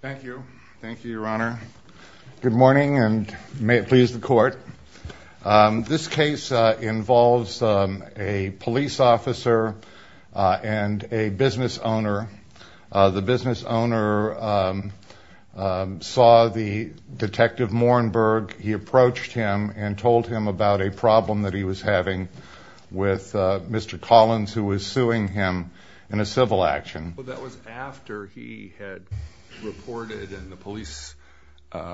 thank you thank you your honor good morning and may it please the court this case involves a police officer and a business owner the business owner saw the detective Morenberg he approached him and told him about a problem that he was having with mr. Collins who was suing him in a civil action that was after he had reported and the police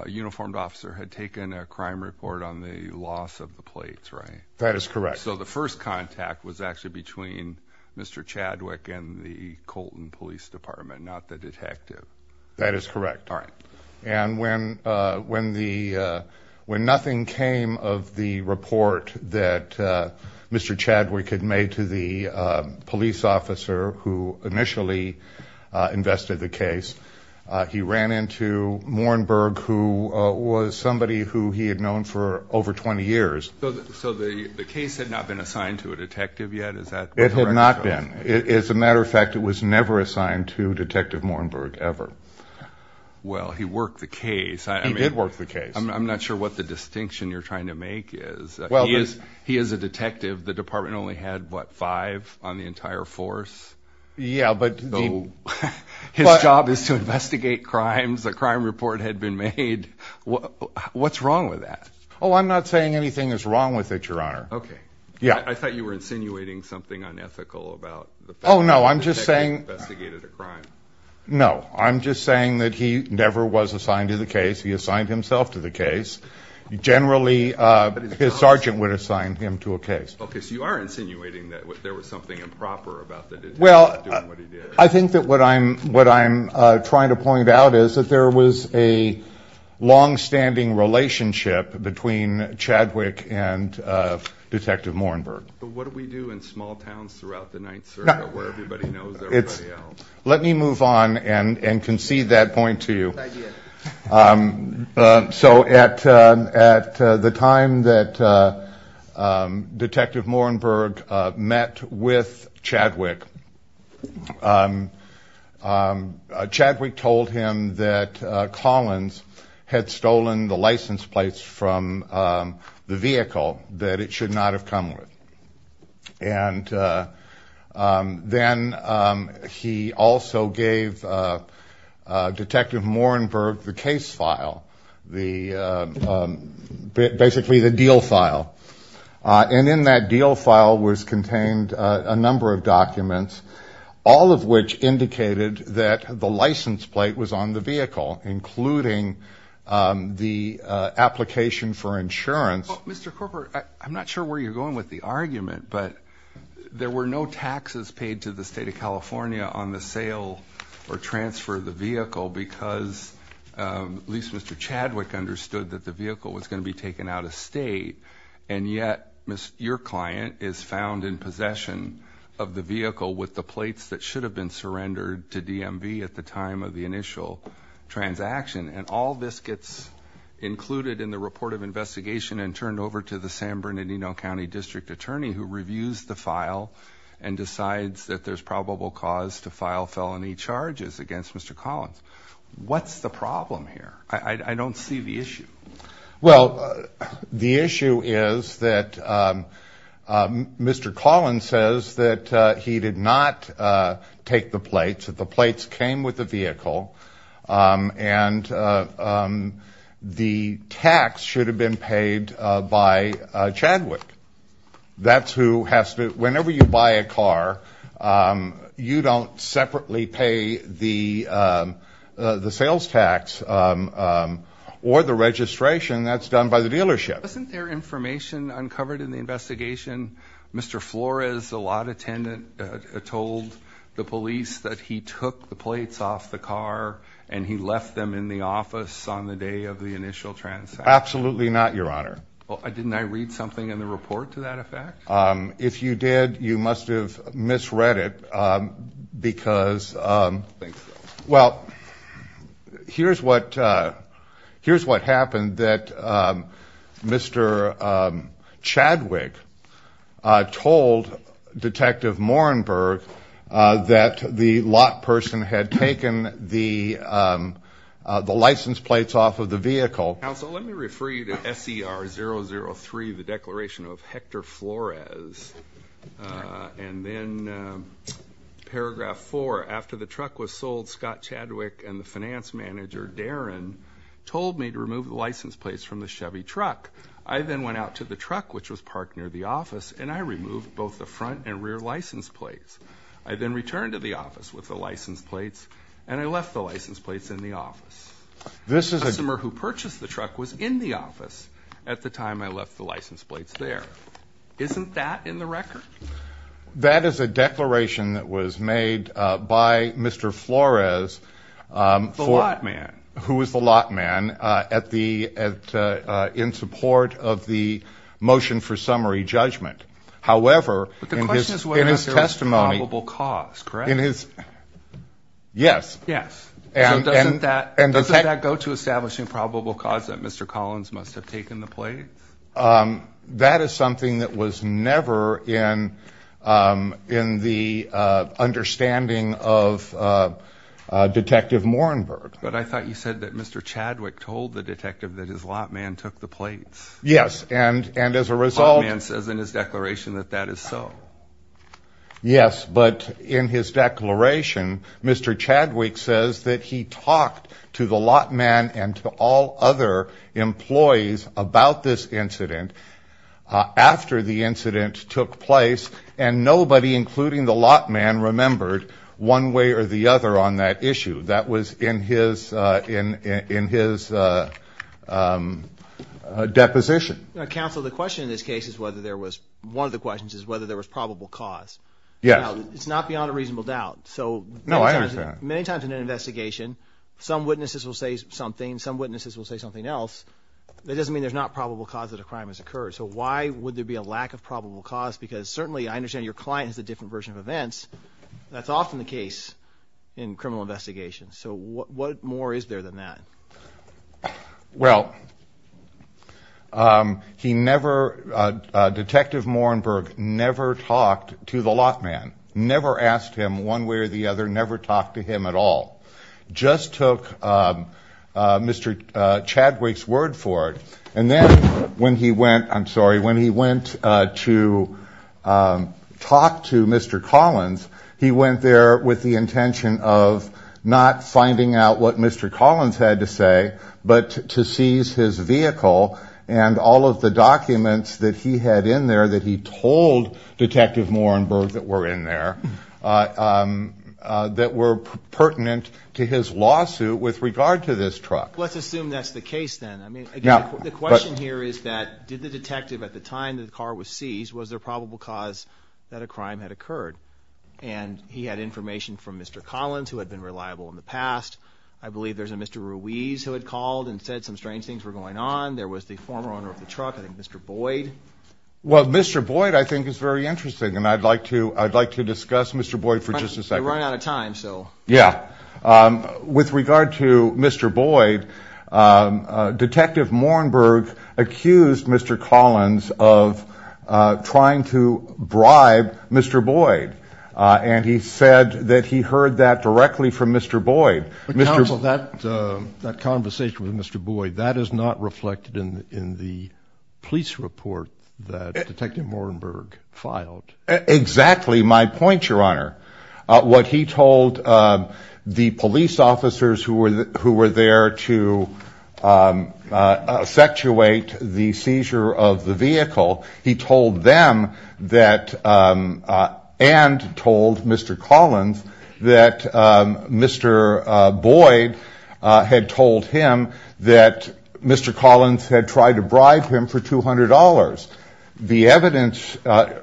uniformed officer had taken a crime report on the loss of the plates right that is correct so the first contact was actually between mr. Chadwick and the Colton Police Department not the detective that is correct all right and when when the when nothing came of the report that mr. Chadwick had made to the police officer who initially invested the case he ran into Morenberg who was somebody who he had known for over 20 years so the case had not been assigned to a detective yet is that it had not been it's a matter of fact it was never assigned to detective Morenberg ever well he worked the case I mean it worked the case I'm not sure what the distinction you're trying to make is well he is he is a detective the entire force yeah but his job is to investigate crimes a crime report had been made what what's wrong with that oh I'm not saying anything is wrong with it your honor okay yeah I thought you were insinuating something unethical about oh no I'm just saying no I'm just saying that he never was assigned to the case he assigned himself to the case generally his sergeant would assign him to a case okay so you are insinuating that there was something improper about that well I think that what I'm what I'm trying to point out is that there was a long-standing relationship between Chadwick and detective Morenberg let me move on and and concede that point to you so at at the time that detective Morenberg met with Chadwick Chadwick told him that Collins had stolen the license plates from the vehicle that it should not have come with and then he also gave detective Morenberg the case file the basically the deal file and in that deal file was contained a number of documents all of which indicated that the license plate was on the vehicle including the application for insurance mr. corporate I'm not sure where you're going with the argument but there were no taxes paid to the state of California on the sale or transfer the vehicle because at least mr. Chadwick understood that the vehicle was going to be taken out of state and yet miss your client is found in possession of the vehicle with the plates that should have been surrendered to DMV at the time of the initial transaction and all this gets included in the report of investigation and turned over to the San Bernardino County District Attorney who reviews the file and decides that there's probable cause to file felony charges against mr. Collins what's the problem here I don't see the issue well the issue is that mr. Collins says that he did not take the plates that the plates came with the vehicle and the tax should have been paid by Chadwick that's who has to whenever you buy a car you don't separately pay the the sales tax or the registration that's done by the dealership isn't there information uncovered in the investigation mr. Flores a lot attendant told the police that he took the plates off the car and he left them in the office on the day of the initial transfer absolutely not your honor well I didn't I read something in the report to that effect if you did you must have misread it because well here's what here's what happened that mr. Chadwick told detective Morenberg that the lot person had taken the the license plates off of the vehicle let me refer you to SCR zero zero three the declaration of Hector Flores and then paragraph four after the truck was sold Scott Chadwick and the finance manager Darren told me to remove the license plates from the Chevy truck I then went out to the truck which was parked near the office and I removed both the front and rear license plates I then returned to the office with the license plates and I left the license plates in the office this is a customer who purchased the truck was in the office at the time I left the license plates there isn't that in the record that is a declaration that was made by mr. Flores for man who was the lot man at the in support of the motion for summary judgment however in his testimony will cause correct in his yes and that and the fact that go to establishing probable cause that mr. Collins must have taken the plate that is something that was never in in the understanding of detective Morenberg but I thought you said that mr. Chadwick told the detective that his lot man took the plates yes and and as a result man says in his declaration that that is so yes but in his declaration mr. Chadwick says that he talked to the lot man and to all other employees about this incident after the incident took place and nobody including the lot man remembered one way or the other on that issue that was in his in in his deposition counsel the question in this case is whether there was one of the questions is whether there was probable cause yeah it's not beyond a reasonable doubt so no I understand many times in an investigation some witnesses will say something some witnesses will say something else that doesn't mean there's not probable cause that a crime has occurred so why would there be a lack of probable cause because certainly I understand your client has a different version of events that's often the case in criminal investigations so what more is there than that well he never detective Morenberg never talked to the lot man never asked him one way or the other never talked to him at all just took mr. Chadwick's word for it and then when he went I'm sorry when he went to talk to mr. Collins he went there with the intention of not finding out what mr. Collins had to say but to seize his vehicle and all of the detective Morenberg that were in there that were pertinent to his lawsuit with regard to this truck let's assume that's the case then I mean yeah the question here is that did the detective at the time that the car was seized was there probable cause that a crime had occurred and he had information from mr. Collins who had been reliable in the past I believe there's a mr. Ruiz who had called and said some strange things were going on there was the former owner of and I'd like to I'd like to discuss mr. Boyd for just a second time so yeah with regard to mr. Boyd detective Morenberg accused mr. Collins of trying to bribe mr. Boyd and he said that he heard that directly from mr. Boyd mr. that that conversation with mr. Boyd that is not reflected in in the police report that exactly my point your honor what he told the police officers who were who were there to effectuate the seizure of the vehicle he told them that and told mr. Collins that mr. Boyd had told him that mr. Collins had tried to bribe him for $200 the evidence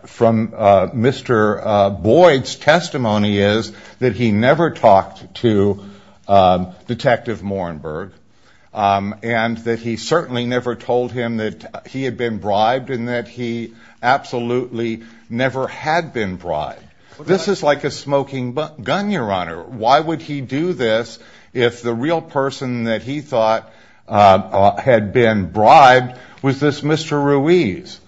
from mr. Boyd's testimony is that he never talked to detective Morenberg and that he certainly never told him that he had been bribed and that he absolutely never had been bribed this is like a smoking gun your honor why would he do this if the real person that he thought had been Mr. Ruiz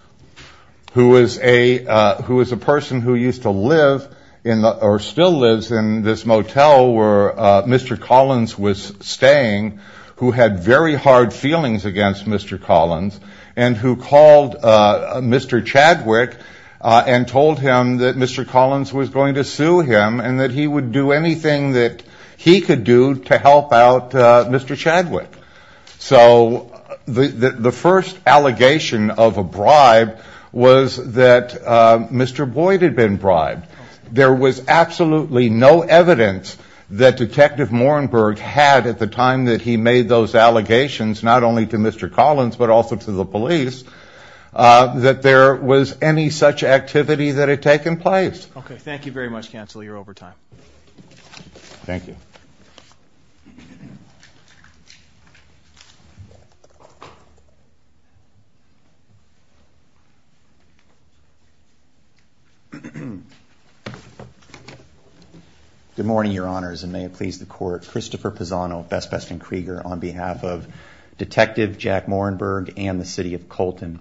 who was a who is a person who used to live in the or still lives in this motel where mr. Collins was staying who had very hard feelings against mr. Collins and who called mr. Chadwick and told him that mr. Collins was going to sue him and that he would do anything that he could do to help out mr. Chadwick so the the first allegation of a bribe was that mr. Boyd had been bribed there was absolutely no evidence that detective Morenberg had at the time that he made those allegations not only to mr. Collins but also to the police that there was any such activity that had taken place okay thank you very much good morning your honors and may it please the court Christopher Pisano best best and Krieger on behalf of detective Jack Morenberg and the city of Colton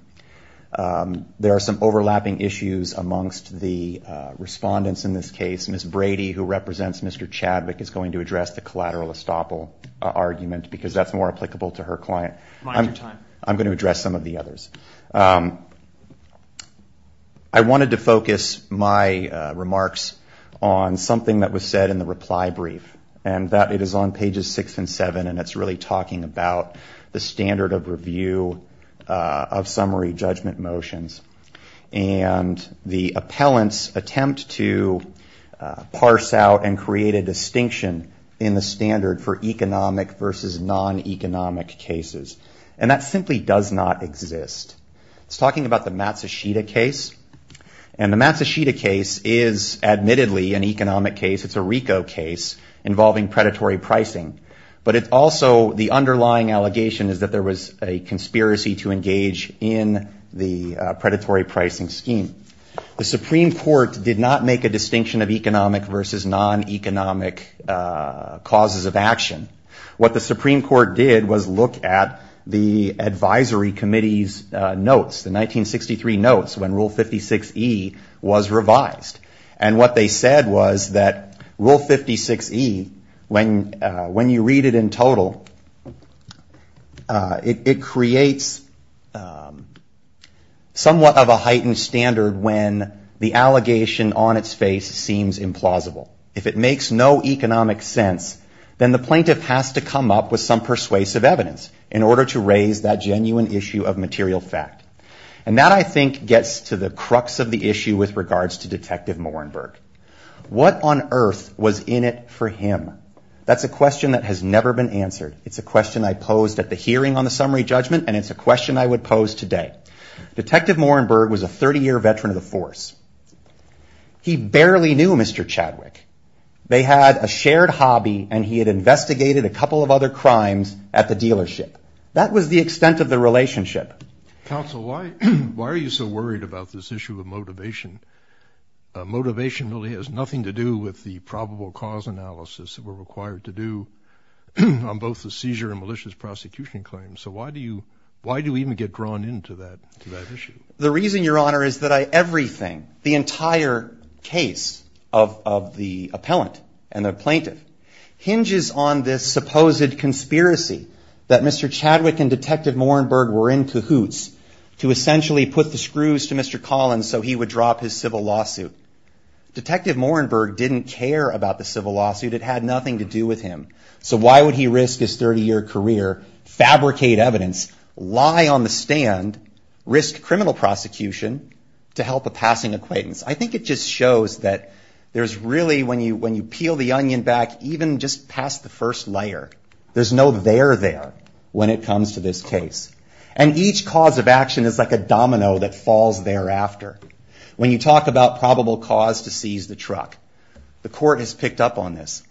there are some overlapping issues amongst the respondents in this case miss Brady who represents mr. Chadwick is going to address the collateral estoppel argument because that's more applicable to her client I'm going to address some of the others I wanted to focus my remarks on something that was said in the reply brief and that it is on pages six and seven and it's really talking about the standard of review of summary judgment motions and the appellants attempt to parse out and create a distinction in the standard for economic versus non-economic cases and that simply does not exist it's talking about the Matsushita case and the Matsushita case is admittedly an economic case it's a RICO case involving predatory pricing but it's also the underlying allegation is that there was a conspiracy to engage in the predatory pricing scheme the Supreme Court did not make a distinction of economic versus non-economic causes of action what the Supreme Court did was look at the Advisory Committee's notes the 1963 notes when rule 56e was revised and what they said was that rule 56e when when you read it in total it creates somewhat of a heightened standard when the allegation on its face seems implausible if it makes no economic sense then the plaintiff has to come up with some persuasive evidence in order to raise that genuine issue of material fact and that I think gets to the crux of the issue with regards to Detective Moerenberg what on earth was in it for him that's a question that has never been answered it's a question I posed at the hearing on the summary judgment and it's a question I would today Detective Moerenberg was a 30-year veteran of the force he barely knew Mr. Chadwick they had a shared hobby and he had investigated a couple of other crimes at the dealership that was the extent of the relationship. Counsel why why are you so worried about this issue of motivation? Motivation really has nothing to do with the probable cause analysis that were required to do on both the seizure and malicious prosecution claims so why do you why do we even get drawn into that to that issue? The reason your honor is that I everything the entire case of the appellant and the plaintiff hinges on this supposed conspiracy that Mr. Chadwick and Detective Moerenberg were in cahoots to essentially put the screws to Mr. Collins so he would drop his civil lawsuit. Detective Moerenberg didn't care about the civil lawsuit it had nothing to do with him so why would he risk his 30-year career fabricate evidence lie on the stand risk criminal prosecution to help a passing acquaintance? I think it just shows that there's really when you when you peel the onion back even just past the first layer there's no there there when it comes to this case and each cause of action is like a domino that falls thereafter. When you talk about probable cause to seize the truck the court has picked up on this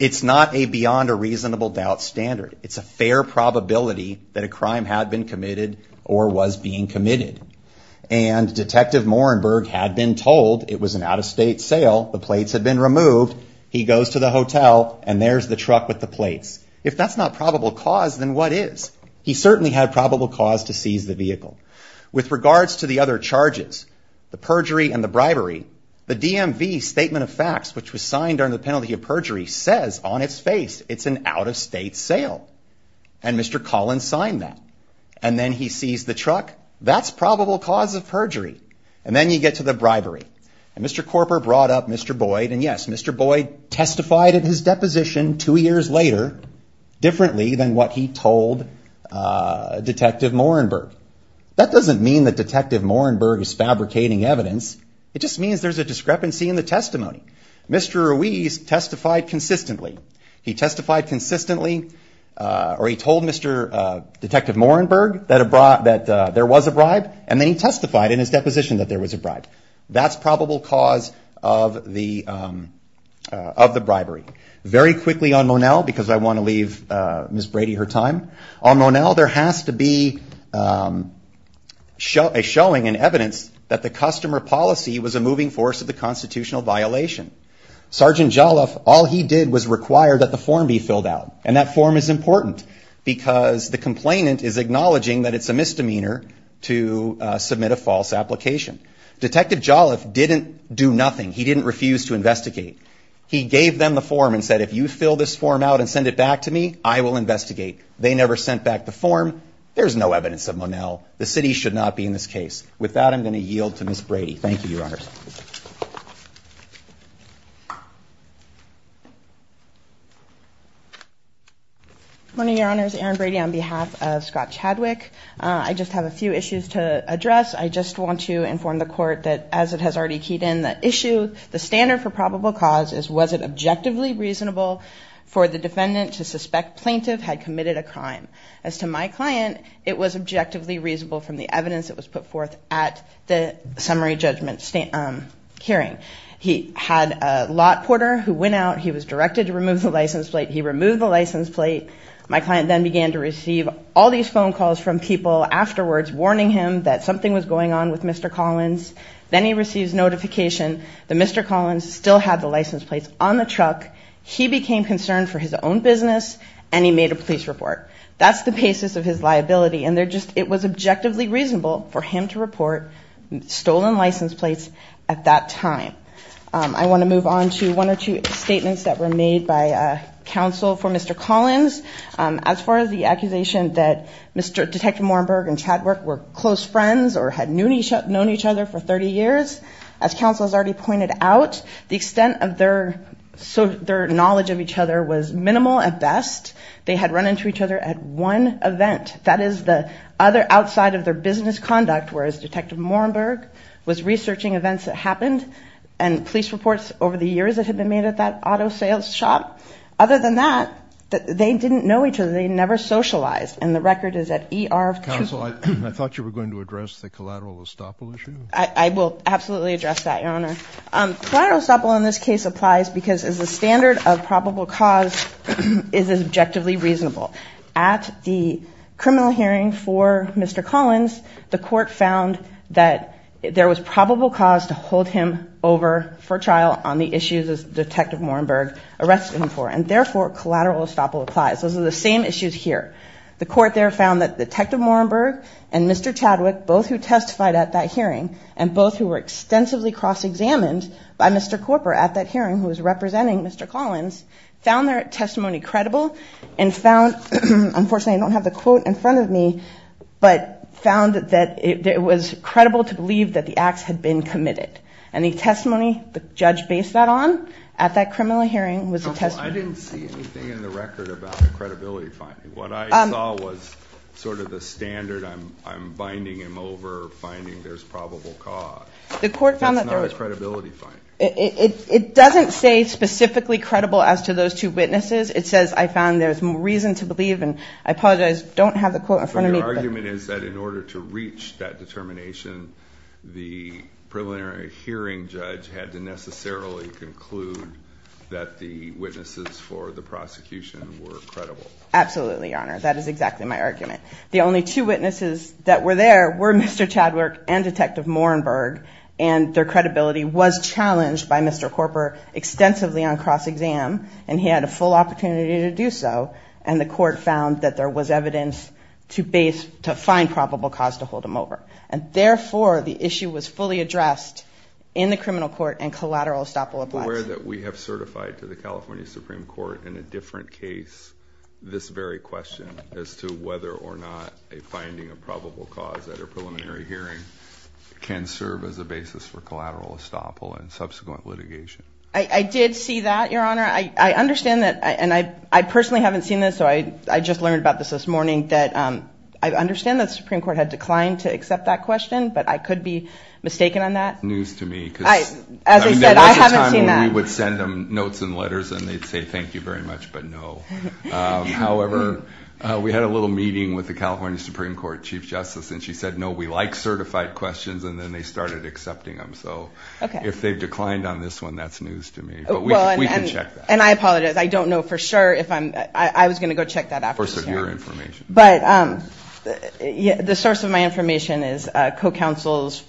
it's not a beyond a reasonable doubt standard it's a fair probability that a crime had been committed or was being committed and Detective Moerenberg had been told it was an out-of-state sale the plates had been removed he goes to the hotel and there's the truck with the plates. If that's not probable cause then what is? He certainly had probable cause to seize the vehicle. With regards to the other charges the perjury and the bribery the DMV statement of facts which was signed on the penalty of perjury says on its face it's an out-of-state sale and Mr. Collins signed that and then he sees the truck that's probable cause of perjury and then you get to the bribery and Mr. Corporate brought up Mr. Boyd and yes Mr. Boyd testified at his deposition two years later differently than what he told Detective Moerenberg. That doesn't mean that Detective Moerenberg is fabricating evidence it just means there's a discrepancy in the testimony. Mr. Ruiz testified consistently. He testified consistently or he told Mr. Detective Moerenberg that there was a bribe and then he testified in his deposition that there was a bribe. That's probable cause of the of the bribery. Very quickly on Monell because I want to leave Miss Brady her time. On Monell there has to be a showing and evidence that the customer policy was a moving force of the did was required that the form be filled out and that form is important because the complainant is acknowledging that it's a misdemeanor to submit a false application. Detective Jolliff didn't do nothing. He didn't refuse to investigate. He gave them the form and said if you fill this form out and send it back to me I will investigate. They never sent back the form. There's no evidence of Monell. The city should not be in this case. With that I'm going to move on. Good morning your honors. Erin Brady on behalf of Scott Chadwick. I just have a few issues to address. I just want to inform the court that as it has already keyed in the issue the standard for probable cause is was it objectively reasonable for the defendant to suspect plaintiff had committed a crime. As to my client it was objectively reasonable from the evidence that was put forth at the license plate. He removed the license plate. My client then began to receive all these phone calls from people afterwards warning him that something was going on with Mr. Collins. Then he receives notification that Mr. Collins still had the license plates on the truck. He became concerned for his own business and he made a police report. That's the basis of his liability and they're just it was objectively reasonable for him to report stolen license plates at that time. I want to move on to one or two statements that were made by counsel for Mr. Collins. As far as the accusation that Mr. Detective Morenberg and Chadwick were close friends or had known each other for 30 years. As counsel has already pointed out the extent of their knowledge of each other was minimal at best. They had run into each other at one event. That is the other outside of their business conduct whereas Detective Morenberg was researching events that happened and police reports over the auto sales shop. Other than that they didn't know each other. They never socialized and the record is at ER. I thought you were going to address the collateral estoppel issue. I will absolutely address that your honor. Collateral estoppel in this case applies because as a standard of probable cause is objectively reasonable. At the criminal hearing for Mr. Collins the court found that there was probable cause to hold him over for trial on the issues as Detective Morenberg arrested him for and therefore collateral estoppel applies. Those are the same issues here. The court there found that Detective Morenberg and Mr. Chadwick both who testified at that hearing and both who were extensively cross-examined by Mr. Cooper at that hearing who was representing Mr. Collins found their testimony credible and found, unfortunately I don't have the quote in front of me, but found that it was credible to believe that the acts had been committed. And the testimony the judge based that on at that criminal hearing was a testimony. I didn't see anything in the record about the credibility finding. What I saw was sort of the standard I'm binding him over finding there's probable cause. The court found that there was. That's not a credibility finding. It doesn't say specifically credible as to those two witnesses. It says I found there's more reason to believe and I apologize don't have the quote in front of me. So your argument is that in order to reach that determination the preliminary hearing the judge had to necessarily conclude that the witnesses for the prosecution were credible. Absolutely, your honor. That is exactly my argument. The only two witnesses that were there were Mr. Chadwick and Detective Morenberg and their credibility was challenged by Mr. Cooper extensively on cross-exam and he had a full opportunity to do so and the court found that there was evidence to base to find probable cause to hold him over. And therefore the issue was fully addressed in the criminal court and collateral estoppel applies. Where that we have certified to the California Supreme Court in a different case this very question as to whether or not a finding of probable cause at a preliminary hearing can serve as a basis for collateral estoppel and subsequent litigation. I did see that your honor. I understand that and I personally haven't seen this so I just learned about this this morning that I understand the Supreme Court had declined to accept that question but I could be mistaken on that. News to me. As I said I haven't seen that. We would send them notes and letters and they'd say thank you very much but no. However we had a little meeting with the California Supreme Court Chief Justice and she said no we like certified questions and then they started accepting them so okay if they've declined on this one that's news to me. We can check that. And I apologize I don't know for sure if I'm I was going to go but the source of my information is co-counsel's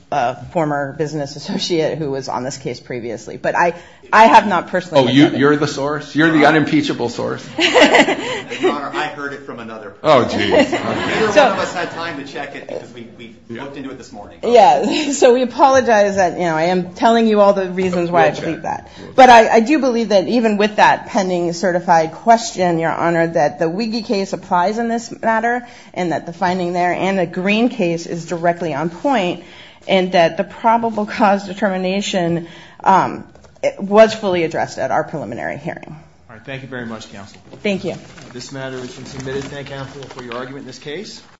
former business associate who was on this case previously but I I have not personally. Oh you're the source? You're the unimpeachable source. So we apologize that you know I am telling you all the reasons why I believe that but I do believe that even with that pending certified question your honor that the wiggy case applies in this matter and that the finding there and a green case is directly on point and that the probable cause determination was fully addressed at our preliminary hearing. Thank you very much counsel. Thank you.